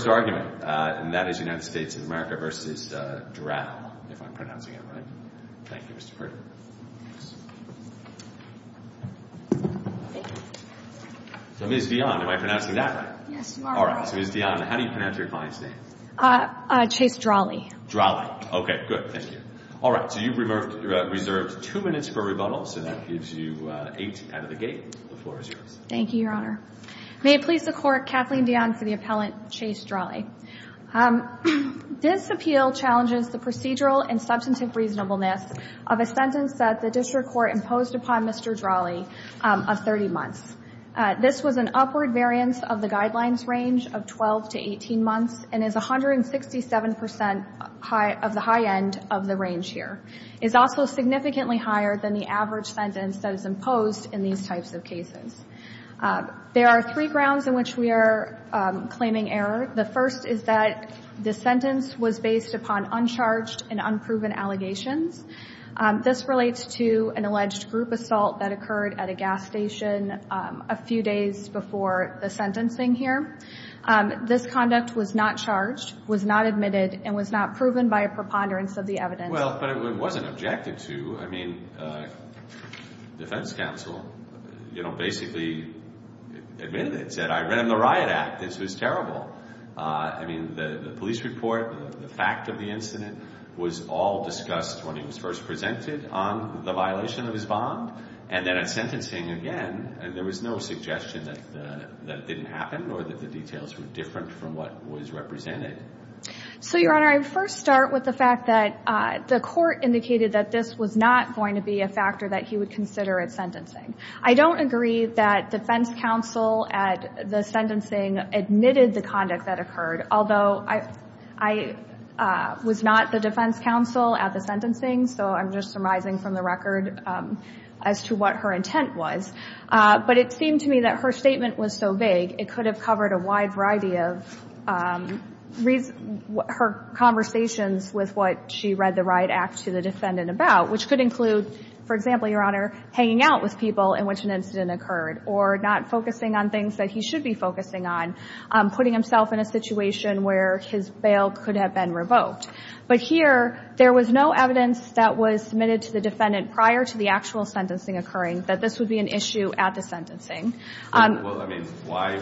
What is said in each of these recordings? Ms. Dionne, how do you pronounce your client's name? Chase Dralle Dralle. Okay, good. Thank you. Alright, so you've reserved two minutes for rebuttal, so that gives you eight out of the gate. The floor is yours. Thank you, Your Honor. May it please the Court, Kathleen Dionne for the appellant Chase Dralle. This appeal challenges the procedural and substantive reasonableness of a sentence that the district court imposed upon Mr. Dralle of 30 months. This was an upward variance of the guidelines range of 12 to 18 months and is 167% of the high end of the range here. It's also significantly higher than the average sentence that is imposed in these types of cases. There are three grounds in which we are claiming error. The first is that the sentence was based upon uncharged and unproven allegations. This relates to an alleged group assault that occurred at a gas station a few days before the sentencing here. This conduct was not charged, was not admitted, and was not proven by a preponderance of the evidence. Well, but it wasn't objected to. I mean, defense counsel, you know, basically admitted it, said, I read in the riot act, this was terrible. I mean, the police report, the fact of the incident was all discussed when he was first presented on the violation of his bond. And then at sentencing again, there was no suggestion that it didn't happen or that the details were different from what was represented. So, Your Honor, I first start with the fact that the court indicated that this was not going to be a factor that he would consider at sentencing. I don't agree that defense counsel at the sentencing admitted the conduct that occurred, although I was not the defense counsel at the sentencing, so I'm just surmising from the record as to what her intent was. But it seemed to me that her statement was so vague, it could have covered a wide variety of her conversations with what she read the riot act to the defendant about, which could include, for example, Your Honor, hanging out with people in which an incident occurred, or not focusing on things that he should be focusing on, putting himself in a situation where his bail could have been revoked. But here, there was no evidence that was submitted to the defendant prior to the actual sentencing occurring, that this would be an issue at the sentencing. Well, I mean, why?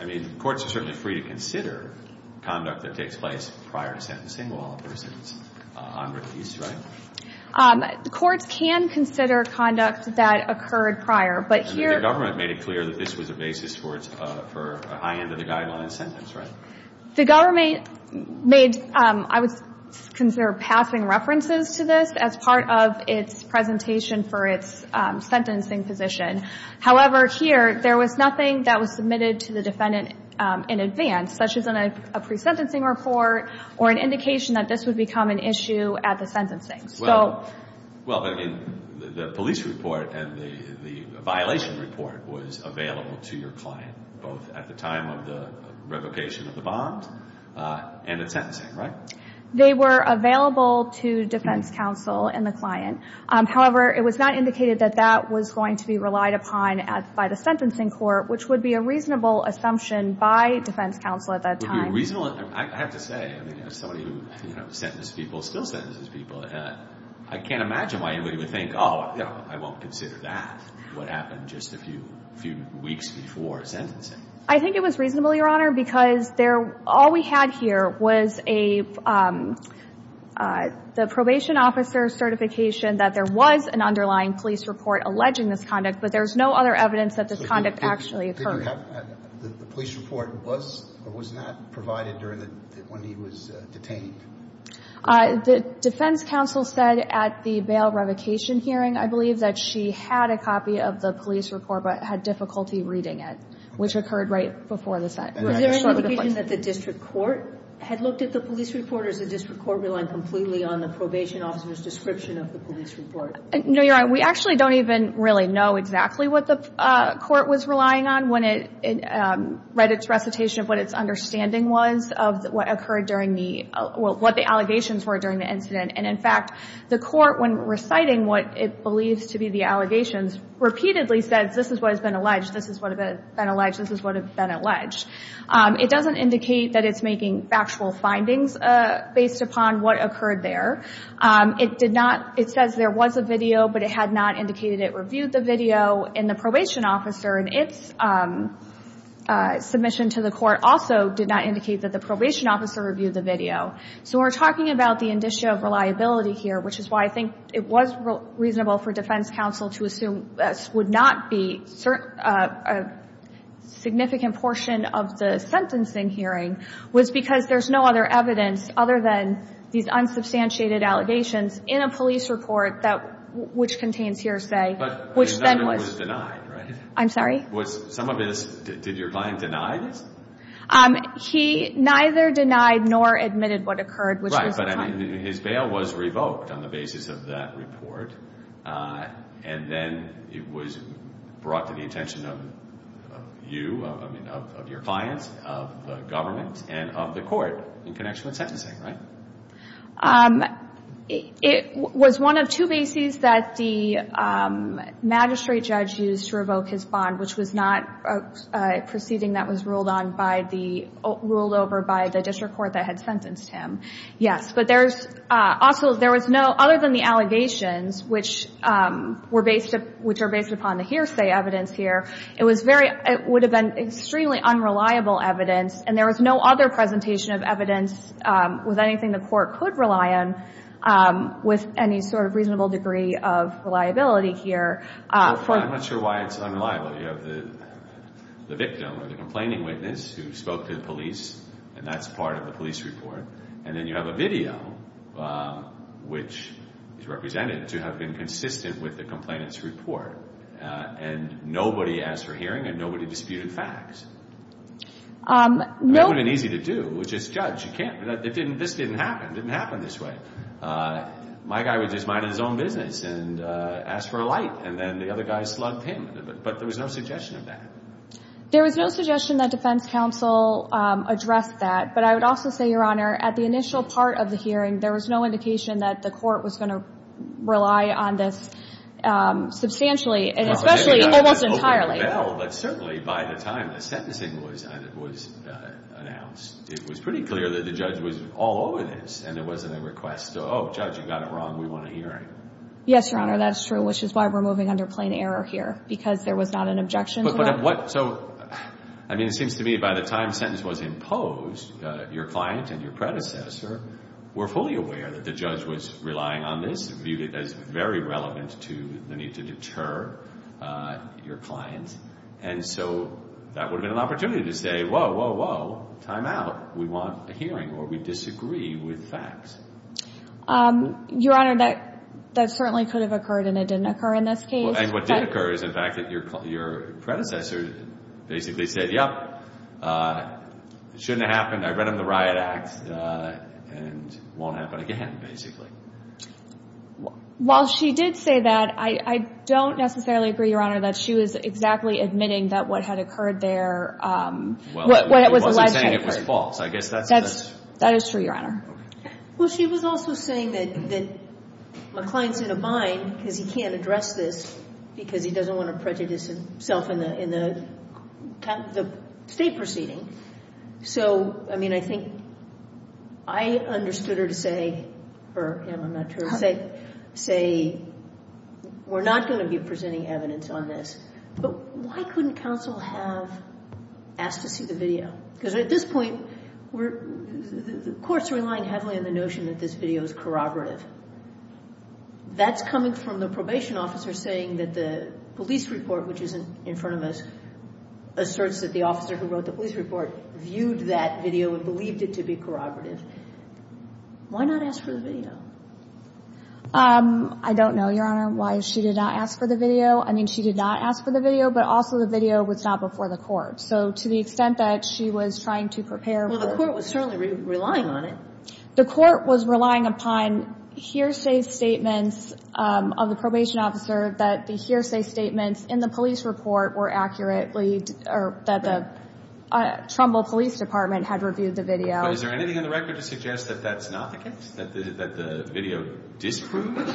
I mean, courts are certainly free to consider conduct that takes place prior to sentencing while a person is on release, right? Courts can consider conduct that occurred prior, but here... The government made it clear that this was a basis for a high end of the guideline sentence, right? The government made, I would consider passing references to this as part of its presentation for its sentencing position. However, here, there was nothing that was submitted to the defendant in advance, such as a pre-sentencing report or an indication that this would become an issue at the sentencing. Well, I mean, the police report and the violation report was available to your client, both at the time of the revocation of the bond and at sentencing, right? They were available to defense counsel and the client. However, it was not indicated that that was going to be relied upon by the sentencing court, which would be a reasonable assumption by defense counsel at that time. I have to say, as somebody who sentenced people, still sentences people, I can't imagine why anybody would think, oh, I won't consider that what happened just a few weeks before sentencing. I think it was reasonable, Your Honor, because all we had here was the probation officer's certification that there was an underlying police report alleging this conduct, but there's no other evidence that this conduct actually occurred. The police report was or was not provided when he was detained? The defense counsel said at the bail revocation hearing, I believe that she had a copy of the police report but had difficulty reading it, which occurred right before the sentencing. Was there any indication that the district court had looked at the police report or is the district court relying completely on the probation officer's description of the police report? No, Your Honor, we actually don't even really know exactly what the court was relying on. We only know when it read its recitation of what its understanding was of what occurred during the, what the allegations were during the incident. And, in fact, the court, when reciting what it believes to be the allegations, repeatedly says this is what has been alleged, this is what has been alleged, this is what has been alleged. It doesn't indicate that it's making factual findings based upon what occurred there. It did not, it says there was a video, but it had not indicated it reviewed the video. And the probation officer, in its submission to the court, also did not indicate that the probation officer reviewed the video. So we're talking about the indicia of reliability here, which is why I think it was reasonable for defense counsel to assume this would not be a significant portion of the sentencing hearing, was because there's no other evidence other than these unsubstantiated allegations in a police report that, which contains hearsay, which then was... But none of it was denied, right? I'm sorry? Was some of this, did your client deny this? He neither denied nor admitted what occurred, which was... Right, but I mean, his bail was revoked on the basis of that report, and then it was brought to the attention of you, I mean, of your clients, of the government, and of the court in connection with sentencing, right? It was one of two bases that the magistrate judge used to revoke his bond, which was not a proceeding that was ruled over by the district court that had sentenced him, yes. But there was no, other than the allegations, which are based upon the hearsay evidence here, it would have been extremely unreliable evidence, and there was no other presentation of evidence with anything the court could rely on with any sort of reasonable degree of reliability here. I'm not sure why it's unreliable. You have the victim or the complaining witness who spoke to the police, and that's part of the police report, and then you have a video which is represented to have been consistent with the complainant's report, and nobody asked for hearing, and nobody disputed facts. That would have been easy to do, which is judge. You can't. This didn't happen. It didn't happen this way. My guy was just minding his own business and asked for a light, and then the other guy slugged him, but there was no suggestion of that. There was no suggestion that defense counsel addressed that, but I would also say, Your Honor, at the initial part of the hearing, there was no indication that the court was going to rely on this substantially, and especially almost entirely. Well, but certainly by the time the sentencing was announced, it was pretty clear that the judge was all over this, and there wasn't a request to, oh, judge, you got it wrong, we want a hearing. Yes, Your Honor, that's true, which is why we're moving under plain error here, because there was not an objection to that. So, I mean, it seems to me by the time sentence was imposed, your client and your predecessor were fully aware that the judge was relying on this, and viewed it as very relevant to the need to deter your client, and so that would have been an opportunity to say, whoa, whoa, whoa, time out, we want a hearing, or we disagree with facts. Your Honor, that certainly could have occurred, and it didn't occur in this case. And what did occur is, in fact, that your predecessor basically said, yep, it shouldn't have happened, I read him the riot act, and it won't happen again, basically. While she did say that, I don't necessarily agree, Your Honor, that she was exactly admitting that what had occurred there, what was alleged to have occurred. Well, she wasn't saying it was false. I guess that's true. That is true, Your Honor. Well, she was also saying that my client's in a bind because he can't address this because he doesn't want to prejudice himself in the state proceeding. So, I mean, I think I understood her to say, or him, I'm not sure, say we're not going to be presenting evidence on this, but why couldn't counsel have asked to see the video? Because at this point, the court's relying heavily on the notion that this video is corroborative. That's coming from the probation officer saying that the police report, which is in front of us, asserts that the officer who wrote the police report viewed that video and believed it to be corroborative. Why not ask for the video? I don't know, Your Honor, why she did not ask for the video. I mean, she did not ask for the video, but also the video was not before the court. So to the extent that she was trying to prepare for the court was certainly relying on it. The court was relying upon hearsay statements of the probation officer that the hearsay statements in the police report were accurately, or that the Trumbull Police Department had reviewed the video. But is there anything in the record to suggest that that's not the case, that the video disproved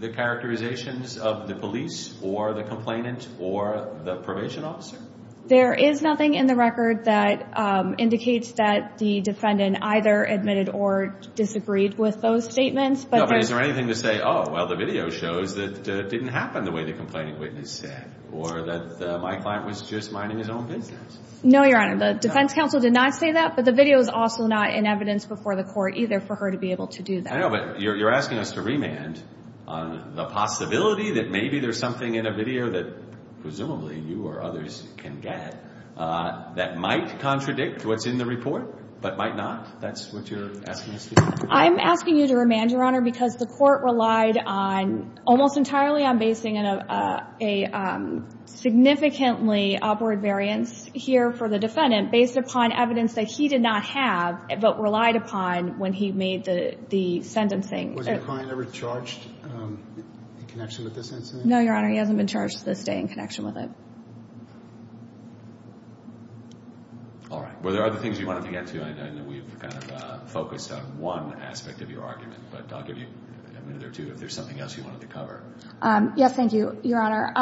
the characterizations of the police or the complainant or the probation officer? There is nothing in the record that indicates that the defendant either admitted or disagreed with those statements. But is there anything to say, oh, well, the video shows that it didn't happen the way the complaining witness said, or that my client was just minding his own business? No, Your Honor, the defense counsel did not say that, but the video is also not in evidence before the court either for her to be able to do that. I know, but you're asking us to remand on the possibility that maybe there's something in a video that presumably you or others can get that might contradict what's in the report but might not? That's what you're asking us to do? I'm asking you to remand, Your Honor, because the court relied on, almost entirely on basing a significantly upward variance here for the defendant based upon evidence that he did not have but relied upon when he made the sentencing. Was the client ever charged in connection with this incident? No, Your Honor, he hasn't been charged to this day in connection with it. All right. Were there other things you wanted to get to? I know we've kind of focused on one aspect of your argument, but I'll give you a minute or two if there's something else you wanted to cover. Yes, thank you, Your Honor.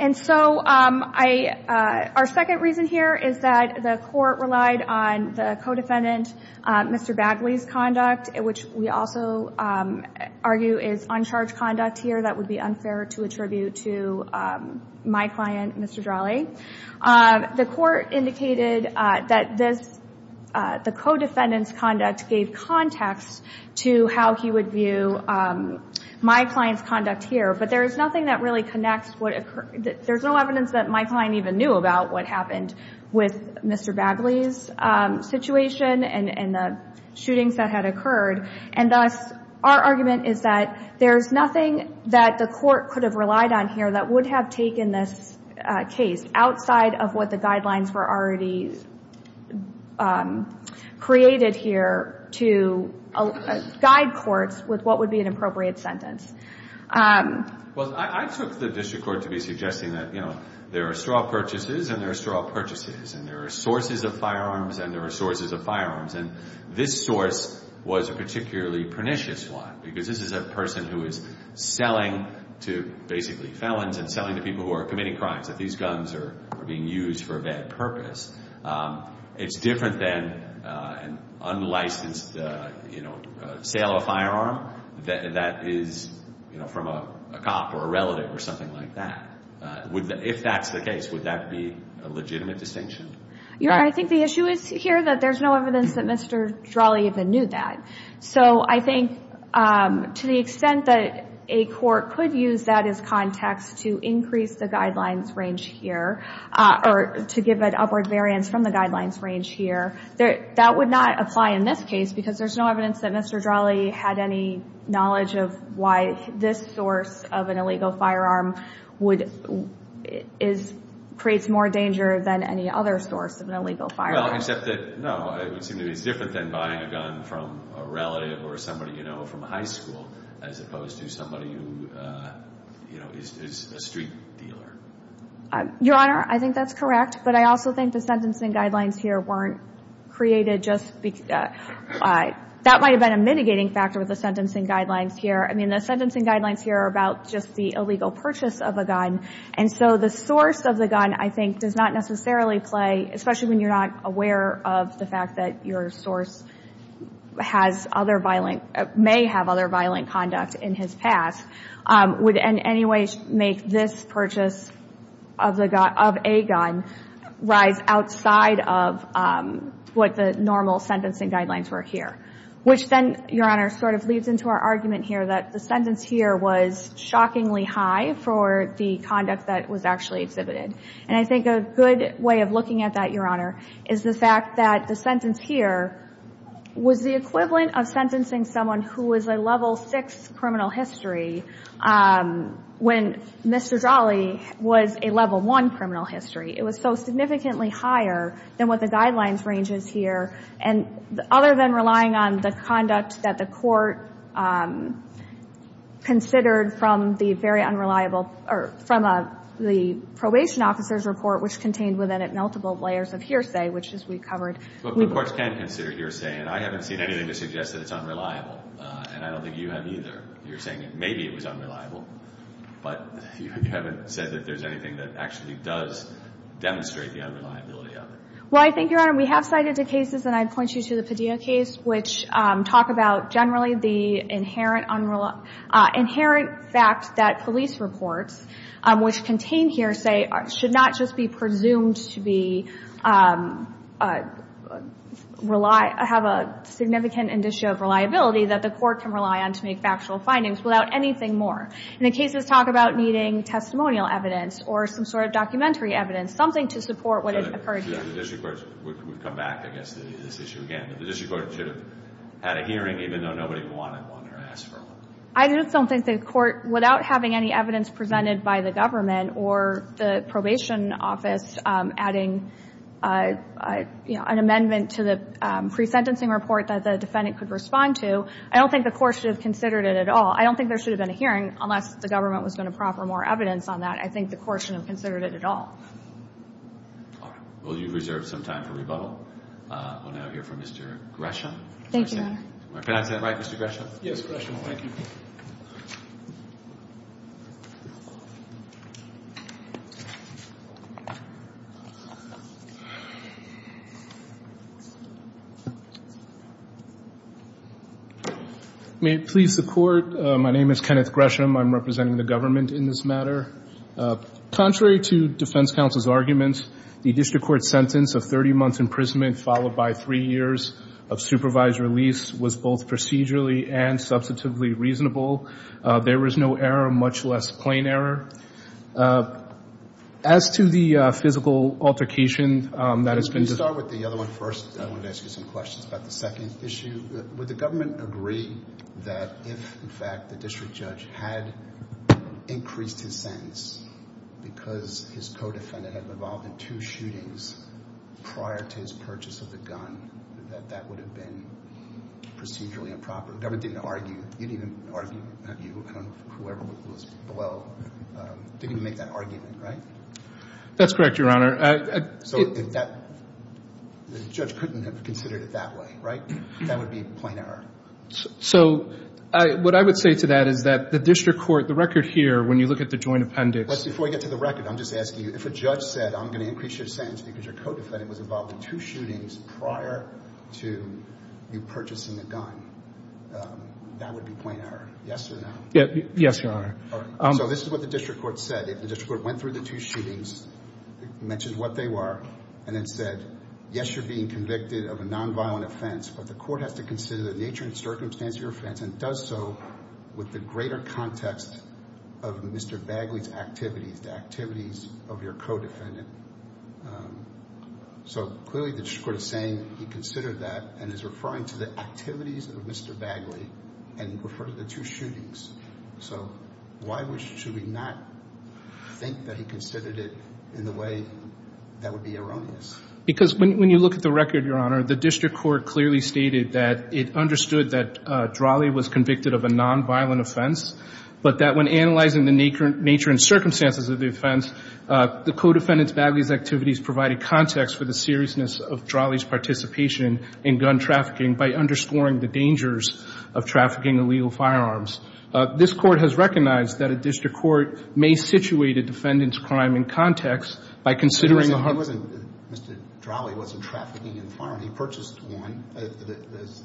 And so our second reason here is that the court relied on the co-defendant, Mr. Bagley's conduct, which we also argue is uncharged conduct here. That would be unfair to attribute to my client, Mr. Drahle. The court indicated that the co-defendant's conduct gave context to how he would view my client's conduct here, but there is nothing that really connects what occurred. There's no evidence that my client even knew about what happened with Mr. Bagley's situation and the shootings that had occurred. And thus, our argument is that there's nothing that the court could have relied on here that would have taken this case outside of what the guidelines were already created here to guide courts with what would be an appropriate sentence. Well, I took the district court to be suggesting that, you know, there are straw purchases and there are straw purchases, and there are sources of firearms and there are sources of firearms. And this source was a particularly pernicious one because this is a person who is selling to basically felons and selling to people who are committing crimes, that these guns are being used for a bad purpose. It's different than an unlicensed, you know, sale of a firearm that is, you know, from a cop or a relative or something like that. If that's the case, would that be a legitimate distinction? Your Honor, I think the issue is here that there's no evidence that Mr. Drahle even knew that. So I think to the extent that a court could use that as context to increase the guidelines range here or to give an upward variance from the guidelines range here, that would not apply in this case because there's no evidence that Mr. Drahle had any knowledge of why this source of an illegal firearm creates more danger than any other source of an illegal firearm. Well, except that, no, it would seem to me it's different than buying a gun from a relative or somebody you know from high school as opposed to somebody who, you know, is a street dealer. Your Honor, I think that's correct. But I also think the sentencing guidelines here weren't created just because – that might have been a mitigating factor with the sentencing guidelines here. I mean, the sentencing guidelines here are about just the illegal purchase of a gun. And so the source of the gun, I think, does not necessarily play, especially when you're not aware of the fact that your source has other violent – may have other violent conduct in his past, would in any way make this purchase of a gun rise outside of what the normal sentencing guidelines were here. Which then, Your Honor, sort of leads into our argument here that the sentence here was shockingly high for the conduct that was actually exhibited. And I think a good way of looking at that, Your Honor, is the fact that the sentence here was the equivalent of sentencing someone who was a level six criminal history when Mr. Jolly was a level one criminal history. It was so significantly higher than what the guidelines range is here. And other than relying on the conduct that the court considered from the very unreliable – or from the probation officer's report, which contained within it multiple layers of hearsay, which is we covered – But the courts can consider hearsay, and I haven't seen anything to suggest that it's unreliable. And I don't think you have either. You're saying that maybe it was unreliable, but you haven't said that there's anything that actually does demonstrate the unreliability of it. Well, I think, Your Honor, we have cited the cases, and I'd point you to the Padilla case, which talk about generally the inherent fact that police reports, which contain hearsay, should not just be presumed to have a significant issue of reliability that the court can rely on to make factual findings without anything more. And the cases talk about needing testimonial evidence or some sort of documentary evidence, something to support what had occurred here. We've come back, I guess, to this issue again. The district court should have had a hearing even though nobody wanted one or asked for one. I just don't think the court, without having any evidence presented by the government or the probation office adding an amendment to the pre-sentencing report that the defendant could respond to, I don't think the court should have considered it at all. I don't think there should have been a hearing unless the government was going to proffer more evidence on that. I think the court should have considered it at all. All right. Well, you've reserved some time for rebuttal. We'll now hear from Mr. Gresham. Thank you, Your Honor. Can I sit right, Mr. Gresham? Yes, Gresham. Thank you. May it please the Court, my name is Kenneth Gresham. I'm representing the government in this matter. Contrary to defense counsel's arguments, the district court's sentence of 30 months' imprisonment followed by three years of supervised release was both procedurally and substantively reasonable. There was no error, much less plain error. As to the physical altercation that has been discussed. Let me start with the other one first. I wanted to ask you some questions about the second issue. Would the government agree that if, in fact, the district judge had increased his sentence because his co-defendant had been involved in two shootings prior to his purchase of the gun, that that would have been procedurally improper? The government didn't argue, didn't even argue, whoever was below, didn't make that argument, right? That's correct, Your Honor. So the judge couldn't have considered it that way, right? That would be plain error. So what I would say to that is that the district court, the record here, when you look at the joint appendix. Before we get to the record, I'm just asking you, if a judge said, I'm going to increase your sentence because your co-defendant was involved in two shootings prior to you purchasing the gun, that would be plain error, yes or no? Yes, Your Honor. So this is what the district court said. The district court went through the two shootings, mentioned what they were, and then said, yes, you're being convicted of a nonviolent offense, but the court has to consider the nature and circumstance of your offense and does so with the greater context of Mr. Bagley's activities, the activities of your co-defendant. So clearly the district court is saying he considered that and is referring to the activities of Mr. Bagley and referred to the two shootings. So why should we not think that he considered it in the way that would be erroneous? Because when you look at the record, Your Honor, the district court clearly stated that it understood that Drahle was convicted of a nonviolent offense, but that when analyzing the nature and circumstances of the offense, the co-defendant's Bagley's activities provided context for the seriousness of Drahle's participation in gun trafficking by underscoring the dangers of trafficking illegal firearms. This court has recognized that a district court may situate a defendant's crime in context by considering the harm. He wasn't, Mr. Drahle wasn't trafficking in firearms. He purchased one, as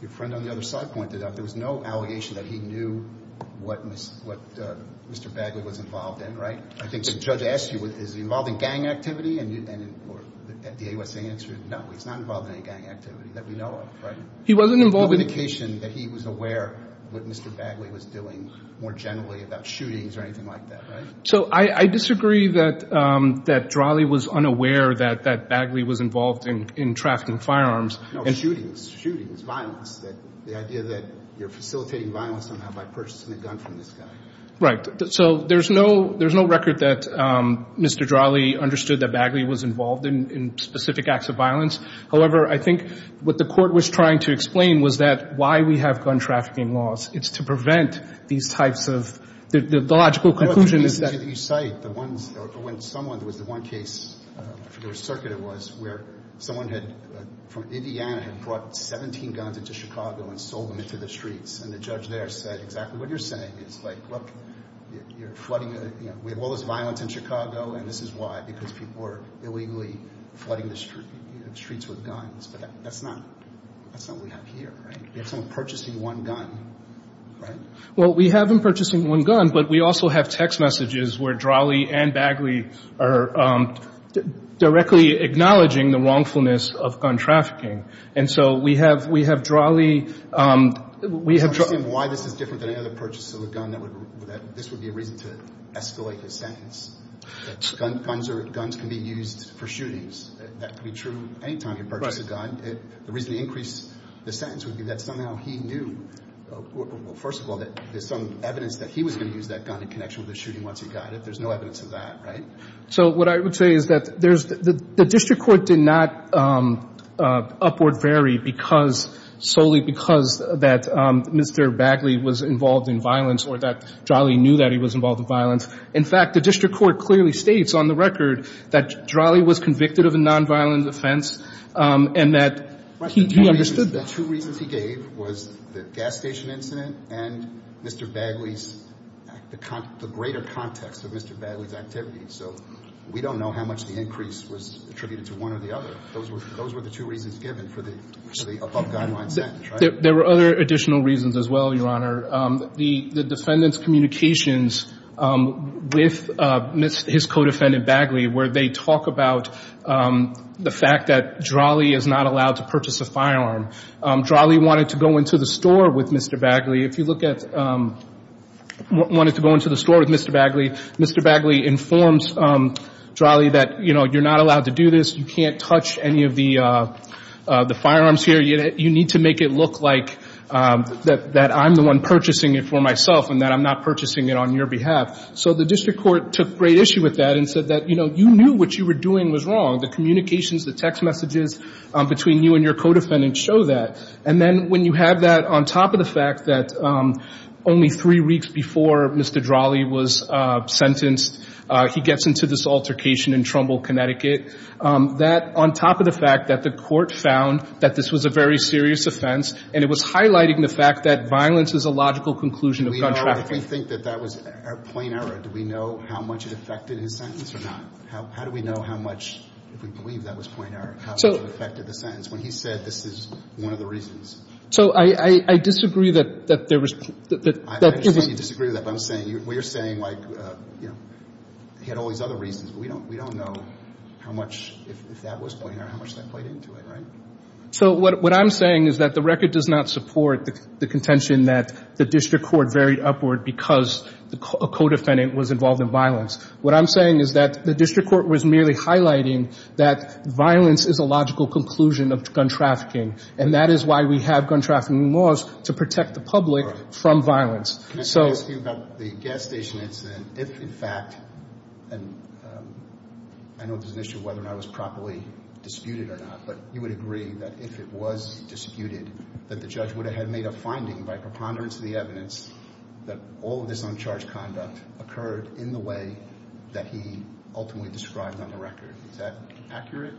your friend on the other side pointed out. There was no allegation that he knew what Mr. Bagley was involved in, right? I think the judge asked you, is he involved in gang activity? And the AUSA answered, no, he's not involved in any gang activity that we know of, right? He wasn't involved. The indication that he was aware of what Mr. Bagley was doing more generally about shootings or anything like that, right? So I disagree that Drahle was unaware that Bagley was involved in trafficking firearms. No, shootings, shootings, violence. The idea that you're facilitating violence somehow by purchasing a gun from this guy. Right. So there's no record that Mr. Drahle understood that Bagley was involved in specific acts of violence. However, I think what the court was trying to explain was that why we have gun trafficking laws. It's to prevent these types of, the logical conclusion is that. You cite the ones, or when someone was the one case, I forget what circuit it was, where someone had, from Indiana, had brought 17 guns into Chicago and sold them into the streets. And the judge there said exactly what you're saying. It's like, look, you're flooding, you know, we have all this violence in Chicago, and this is why. Because people are illegally flooding the streets with guns. But that's not, that's not what we have here, right? We have someone purchasing one gun, right? Well, we have him purchasing one gun, but we also have text messages where Drahle and Bagley are directly acknowledging the wrongfulness of gun trafficking. And so we have, we have Drahle, we have Drahle. I don't understand why this is different than any other purchase of a gun. This would be a reason to escalate his sentence. Guns are, guns can be used for shootings. That could be true any time you purchase a gun. The reason to increase the sentence would be that somehow he knew, first of all, that there's some evidence that he was going to use that gun in connection with the shooting once he got it. There's no evidence of that, right? So what I would say is that there's, the district court did not upward vary because, solely because that Mr. Bagley was involved in violence or that Drahle knew that he was involved in violence. In fact, the district court clearly states on the record that Drahle was convicted of a nonviolent offense and that he understood that. The two reasons he gave was the gas station incident and Mr. Bagley's, the greater context of Mr. Bagley's activity. So we don't know how much the increase was attributed to one or the other. Those were the two reasons given for the above guideline sentence, right? There were other additional reasons as well, Your Honor. The defendant's communications with his co-defendant Bagley, where they talk about the fact that Drahle is not allowed to purchase a firearm. Drahle wanted to go into the store with Mr. Bagley. If you look at, wanted to go into the store with Mr. Bagley, Mr. Bagley informs Drahle that, you know, you're not allowed to do this. You can't touch any of the firearms here. You need to make it look like that I'm the one purchasing it for myself and that I'm not purchasing it on your behalf. So the district court took great issue with that and said that, you know, you knew what you were doing was wrong. The communications, the text messages between you and your co-defendant show that. And then when you have that on top of the fact that only three weeks before Mr. Drahle was sentenced, he gets into this altercation in Trumbull, Connecticut, that on top of the fact that the court found that this was a very serious offense and it was highlighting the fact that violence is a logical conclusion of gun trafficking. We think that that was a plain error. Do we know how much it affected his sentence or not? How do we know how much, if we believe that was a plain error, how much it affected the sentence when he said this is one of the reasons? So I disagree that there was. I understand you disagree with that, but I'm saying, we're saying like, you know, he had all these other reasons. We don't know how much, if that was a plain error, how much that played into it, right? So what I'm saying is that the record does not support the contention that the district court varied upward because a co-defendant was involved in violence. What I'm saying is that the district court was merely highlighting that violence is a logical conclusion of gun trafficking, and that is why we have gun trafficking laws to protect the public from violence. Can I ask you about the gas station incident? If, in fact, and I know there's an issue of whether or not it was properly disputed or not, but you would agree that if it was disputed that the judge would have had made a finding by preponderance of the evidence that all of this uncharged conduct occurred in the way that he ultimately described on the record. Is that accurate?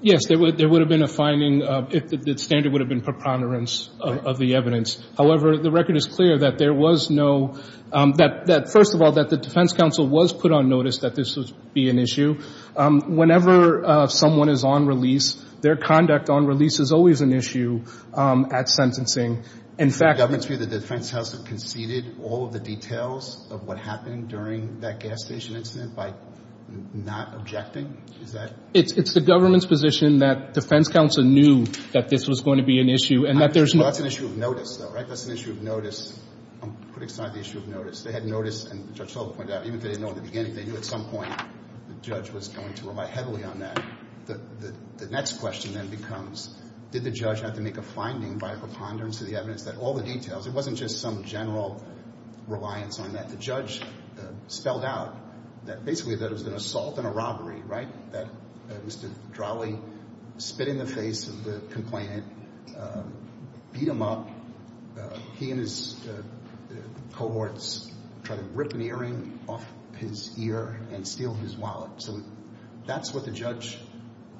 Yes, there would have been a finding if the standard would have been preponderance of the evidence. However, the record is clear that there was no, that first of all, that the defense counsel was put on notice that this would be an issue. Whenever someone is on release, their conduct on release is always an issue at sentencing. In fact, Does the government's view that the defense counsel conceded all of the details of what happened during that gas station incident by not objecting? Is that? It's the government's position that defense counsel knew that this was going to be an issue and that there's no That's an issue of notice, though, right? That's an issue of notice. I'm pretty excited about the issue of notice. They had notice, and Judge Sullivan pointed out, even if they didn't know in the beginning, they knew at some point the judge was going to rely heavily on that. The next question then becomes, did the judge have to make a finding by preponderance of the evidence that all the details, it wasn't just some general reliance on that. The judge spelled out that basically that it was an assault and a robbery, right, that Mr. Drawley spit in the face of the complainant, beat him up. He and his cohorts tried to rip an earring off his ear and steal his wallet. So that's what the judge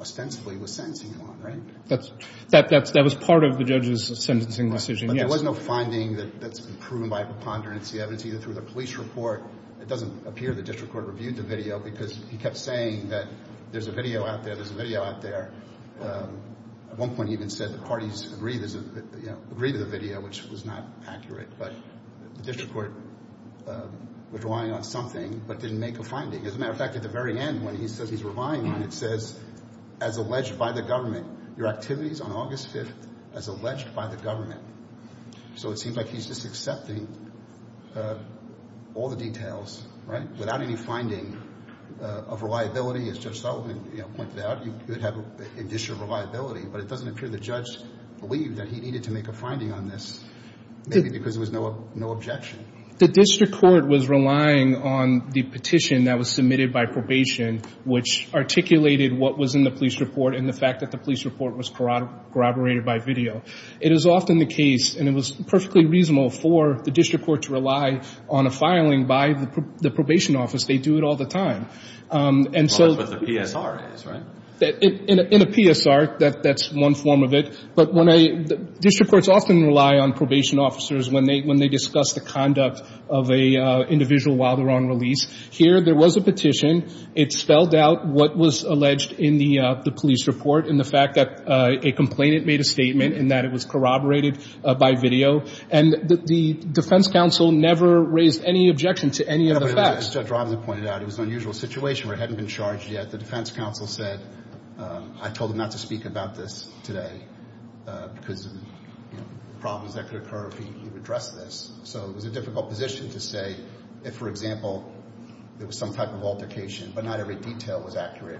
ostensibly was sentencing him on, right? That was part of the judge's sentencing decision, yes. But there was no finding that's been proven by preponderance of the evidence, either through the police report. It doesn't appear the district court reviewed the video because he kept saying that there's a video out there, there's a video out there. At one point he even said the parties agreed to the video, which was not accurate. But the district court was relying on something but didn't make a finding. As a matter of fact, at the very end when he says he's relying on it, it says, as alleged by the government, your activities on August 5th as alleged by the government. So it seems like he's just accepting all the details, right, without any finding of reliability, as Judge Sullivan pointed out. You could have additional reliability, but it doesn't appear the judge believed that he needed to make a finding on this, maybe because there was no objection. The district court was relying on the petition that was submitted by probation, which articulated what was in the police report and the fact that the police report was corroborated by video. It is often the case, and it was perfectly reasonable for the district court to rely on a filing by the probation office. They do it all the time. That's what the PSR is, right? In a PSR, that's one form of it. But district courts often rely on probation officers when they discuss the conduct of an individual while they're on release. Here there was a petition. It spelled out what was alleged in the police report and the fact that a complainant made a statement and that it was corroborated by video. And the defense counsel never raised any objection to any of the facts. No, but as Judge Robinson pointed out, it was an unusual situation where it hadn't been charged yet. The defense counsel said, I told him not to speak about this today because of problems that could occur if he addressed this. So it was a difficult position to say if, for example, there was some type of altercation, but not every detail was accurate,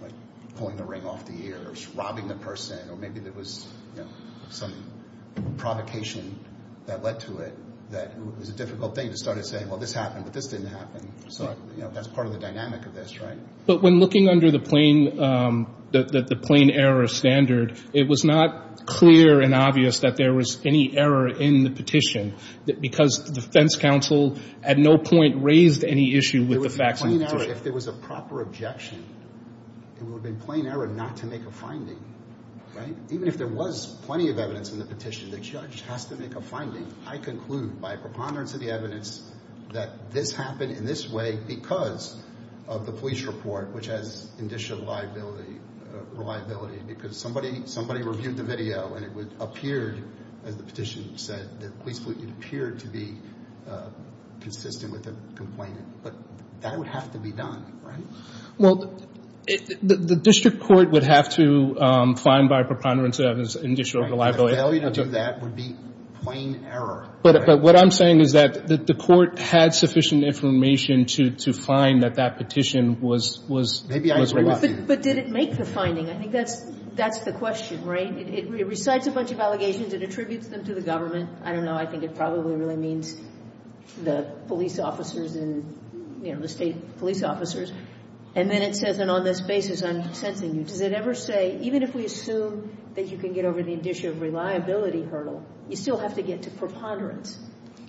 like pulling the ring off the ear or robbing the person, or maybe there was some provocation that led to it, that it was a difficult thing to start saying, well, this happened, but this didn't happen. So that's part of the dynamic of this, right? But when looking under the plain error standard, it was not clear and obvious that there was any error in the petition because the defense counsel at no point raised any issue with the facts. If there was a proper objection, it would have been plain error not to make a finding, right? Even if there was plenty of evidence in the petition, the judge has to make a finding. I conclude by preponderance of the evidence that this happened in this way because of the police report, which has initial liability because somebody reviewed the video and it appeared, as the petition said, it appeared to be consistent with the complainant. But that would have to be done, right? Well, the district court would have to find by preponderance of its initial liability. The failure to do that would be plain error. But what I'm saying is that the court had sufficient information to find that that petition was wrong. But did it make the finding? I think that's the question, right? It recites a bunch of allegations. It attributes them to the government. I don't know. I think it probably really means the police officers and, you know, the state police officers. And then it says, and on this basis I'm sensing you, does it ever say, even if we assume that you can get over the initial reliability hurdle, you still have to get to preponderance?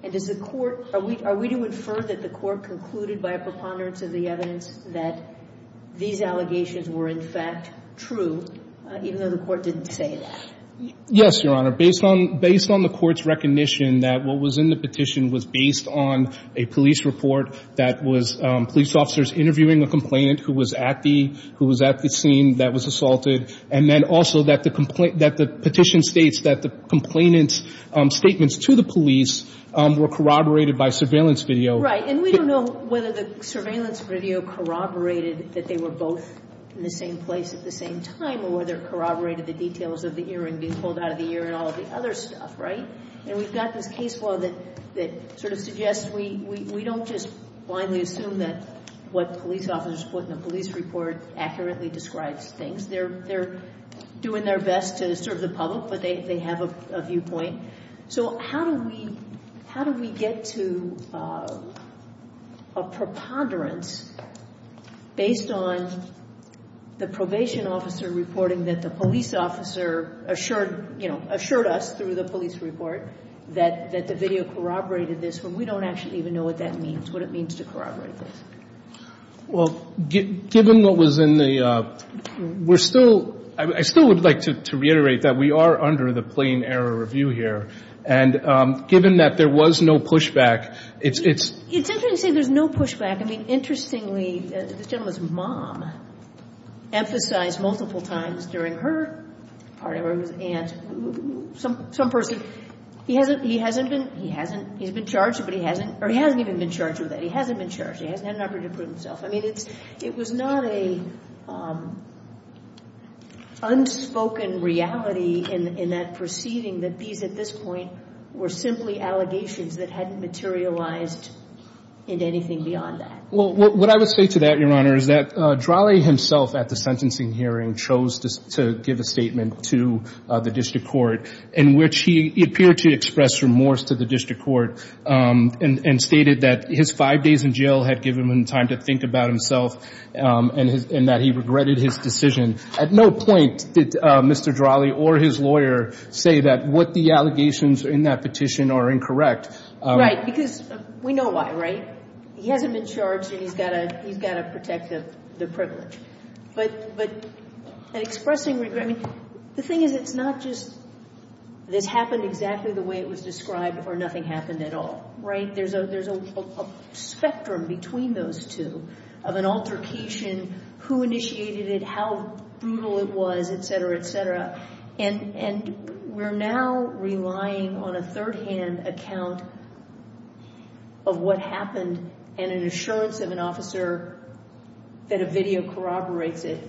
And does the court – are we to infer that the court concluded by a preponderance of the evidence that these allegations were in fact true, even though the court didn't say that? Yes, Your Honor. Based on the court's recognition that what was in the petition was based on a police report that was police officers interviewing a complainant who was at the scene that was assaulted, and then also that the petition states that the complainant's statements to the police were corroborated by surveillance video. Right. And we don't know whether the surveillance video corroborated that they were both in the same place at the same time or whether it corroborated the details of the earring being pulled out of the ear and all of the other stuff, right? And we've got this case law that sort of suggests we don't just blindly assume that what police officers put in a police report accurately describes things. They're doing their best to serve the public, but they have a viewpoint. Okay. So how do we – how do we get to a preponderance based on the probation officer reporting that the police officer assured, you know, assured us through the police report that the video corroborated this, when we don't actually even know what that means, what it means to corroborate this? Well, given what was in the – we're still – I still would like to reiterate that we are under the plain error review here. And given that there was no pushback, it's – It's interesting you say there's no pushback. I mean, interestingly, this gentleman's mom emphasized multiple times during her part of it and some person, he hasn't – he hasn't been – he hasn't – he's been charged, but he hasn't – or he hasn't even been charged with it. He hasn't been charged. He hasn't had an opportunity to prove himself. I mean, it's – it was not an unspoken reality in that proceeding that these, at this point, were simply allegations that hadn't materialized into anything beyond that. Well, what I would say to that, Your Honor, is that Drale himself at the sentencing hearing chose to give a statement to the district court in which he appeared to express remorse to the district court and stated that his five days in jail had given him time to think about himself and that he regretted his decision. At no point did Mr. Drale or his lawyer say that what the allegations in that petition are incorrect. Right, because we know why, right? He hasn't been charged and he's got to – he's got to protect the privilege. But expressing regret – I mean, the thing is it's not just this happened exactly the way it was described or nothing happened at all, right? There's a spectrum between those two of an altercation, who initiated it, how brutal it was, et cetera, et cetera. And we're now relying on a third-hand account of what happened and an assurance of an officer that a video corroborates it.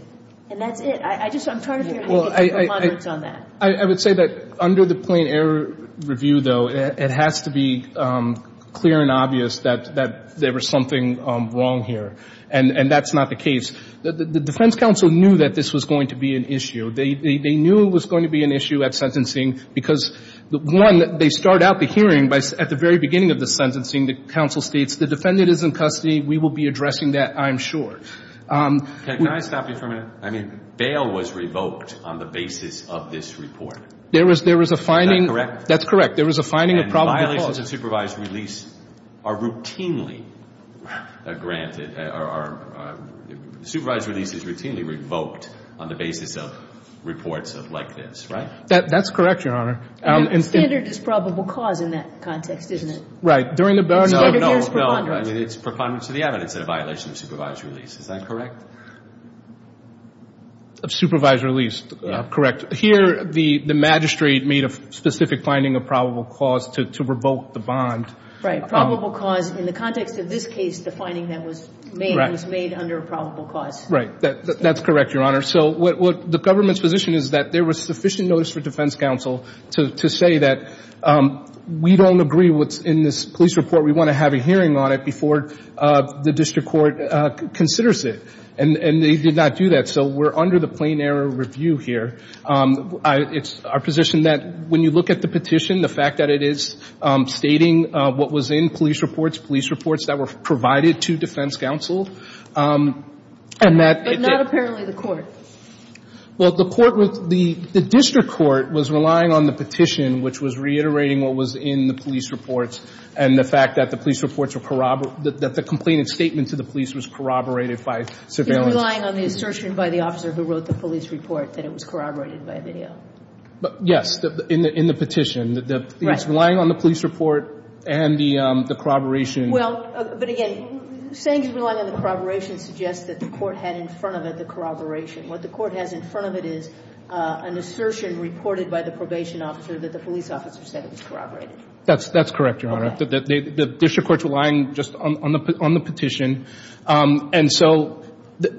And that's it. I just – I'm trying to figure out how to get some comments on that. I would say that under the plain error review, though, it has to be clear and obvious that there was something wrong here. And that's not the case. The defense counsel knew that this was going to be an issue. They knew it was going to be an issue at sentencing because, one, they start out the hearing. At the very beginning of the sentencing, the counsel states, the defendant is in custody, we will be addressing that, I'm sure. Can I stop you for a minute? I mean, bail was revoked on the basis of this report. There was a finding. Is that correct? That's correct. There was a finding of probable cause. And violations of supervised release are routinely granted – are supervised releases routinely revoked on the basis of reports like this, right? That's correct, Your Honor. Standard is probable cause in that context, isn't it? Right. No, no. I mean, it's preponderance of the evidence and a violation of supervised release. Is that correct? Of supervised release. Correct. Here, the magistrate made a specific finding of probable cause to revoke the bond. Right. Probable cause. In the context of this case, the finding that was made was made under probable cause. Right. That's correct, Your Honor. So what the government's position is that there was sufficient notice for defense counsel to say that we don't agree what's in this police report. We want to have a hearing on it before the district court considers it. And they did not do that. So we're under the plain error review here. It's our position that when you look at the petition, the fact that it is stating what was in police reports, police reports that were provided to defense counsel, and that – And certainly the court. Well, the court was – the district court was relying on the petition, which was reiterating what was in the police reports, and the fact that the police reports were – that the complaint and statement to the police was corroborated by surveillance. He's relying on the assertion by the officer who wrote the police report that it was corroborated by video. Yes, in the petition. Right. It's relying on the police report and the corroboration. Well, but again, saying it's relying on the corroboration suggests that the court had in front of it the corroboration. What the court has in front of it is an assertion reported by the probation officer that the police officer said it was corroborated. That's correct, Your Honor. Okay. The district court's relying just on the petition. And so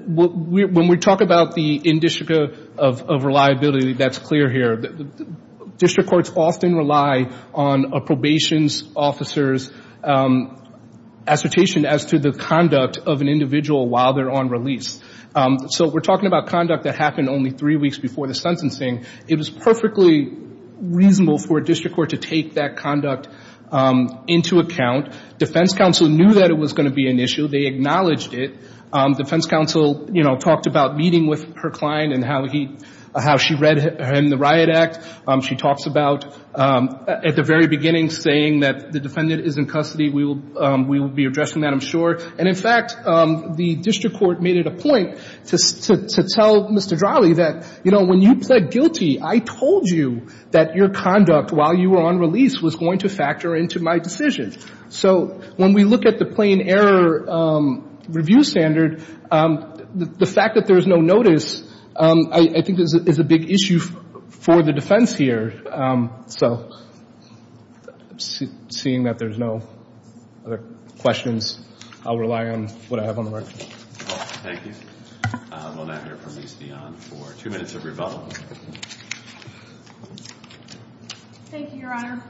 when we talk about the indistrict of reliability, that's clear here. District courts often rely on a probation officer's assertion as to the conduct of an individual while they're on release. So we're talking about conduct that happened only three weeks before the sentencing. It was perfectly reasonable for a district court to take that conduct into account. Defense counsel knew that it was going to be an issue. They acknowledged it. Defense counsel, you know, talked about meeting with her client and how she read him the Riot Act. She talks about at the very beginning saying that the defendant is in custody. We will be addressing that, I'm sure. And, in fact, the district court made it a point to tell Mr. Drawley that, you know, when you pled guilty, I told you that your conduct while you were on release was going to factor into my decision. So when we look at the plain error review standard, the fact that there is no notice, I think is a big issue for the defense here. So seeing that there's no other questions, I'll rely on what I have on the record. Thank you. We'll now hear from Lise Dionne for two minutes of rebuttal. Thank you, Your Honor.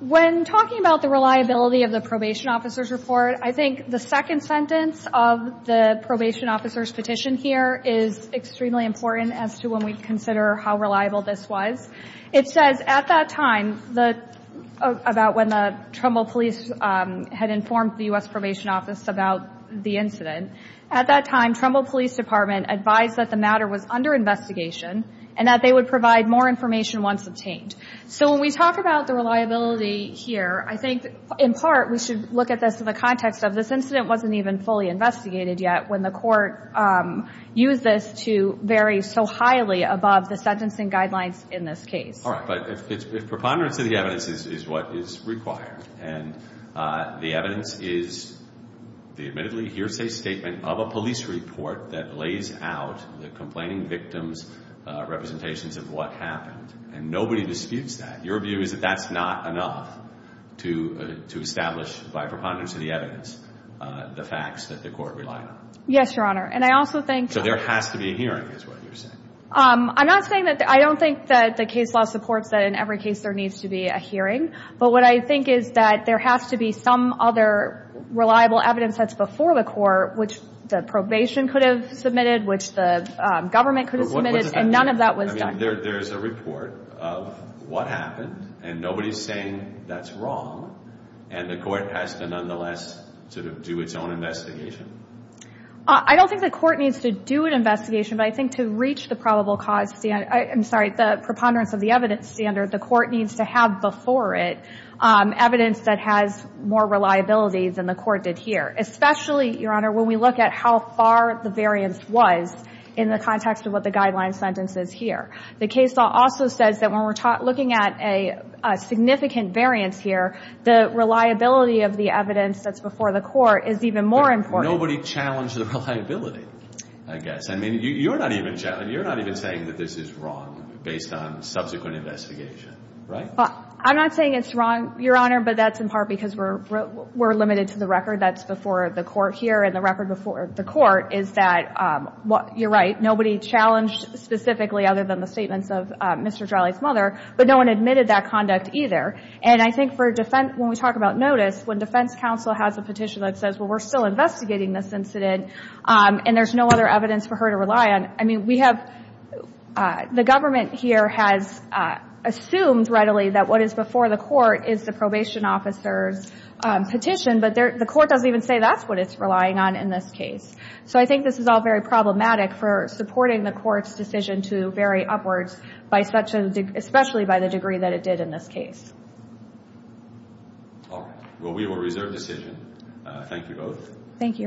When talking about the reliability of the probation officer's report, I think the second sentence of the probation officer's petition here is extremely important as to when we consider how reliable this was. It says, at that time, about when the Trumbull police had informed the U.S. Probation Office about the incident, at that time Trumbull Police Department advised that the matter was under investigation and that they would provide more information once obtained. So when we talk about the reliability here, I think in part we should look at this in the context of this incident wasn't even fully investigated yet when the court used this to vary so highly above the sentencing guidelines in this case. All right. But if preponderance of the evidence is what is required and the evidence is the admittedly hearsay statement of a police report that lays out the complaining victims' representations of what happened, and nobody disputes that, your view is that that's not enough to establish, by preponderance of the evidence, the facts that the court relied on? Yes, Your Honor. And I also think... So there has to be a hearing is what you're saying? I'm not saying that... I don't think that the case law supports that in every case there needs to be a hearing, but what I think is that there has to be some other reliable evidence that's before the court which the probation could have submitted, which the government could have submitted, and none of that was done. I mean, there's a report of what happened, and nobody's saying that's wrong, and the court has to nonetheless sort of do its own investigation. I don't think the court needs to do an investigation, but I think to reach the probable cause standard... I'm sorry, the preponderance of the evidence standard, the court needs to have before it evidence that has more reliability than the court did here, especially, Your Honor, when we look at how far the variance was in the context of what the guideline sentence is here. The case law also says that when we're looking at a significant variance here, the reliability of the evidence that's before the court is even more important. Nobody challenged the reliability, I guess. I mean, you're not even saying that this is wrong based on subsequent investigation, right? I'm not saying it's wrong, Your Honor, but that's in part because we're limited to the record that's before the court here, and the record before the court is that, you're right, nobody challenged specifically, other than the statements of Mr. Jolly's mother, but no one admitted that conduct either. And I think when we talk about notice, when defense counsel has a petition that says, well, we're still investigating this incident, and there's no other evidence for her to rely on, I mean, the government here has assumed readily that what is before the court is the probation officer's petition, but the court doesn't even say that's what it's relying on in this case. So I think this is all very problematic for supporting the court's decision to vary upwards, especially by the degree that it did in this case. All right. Well, we will reserve decision. Thank you both. Thank you, Your Honor.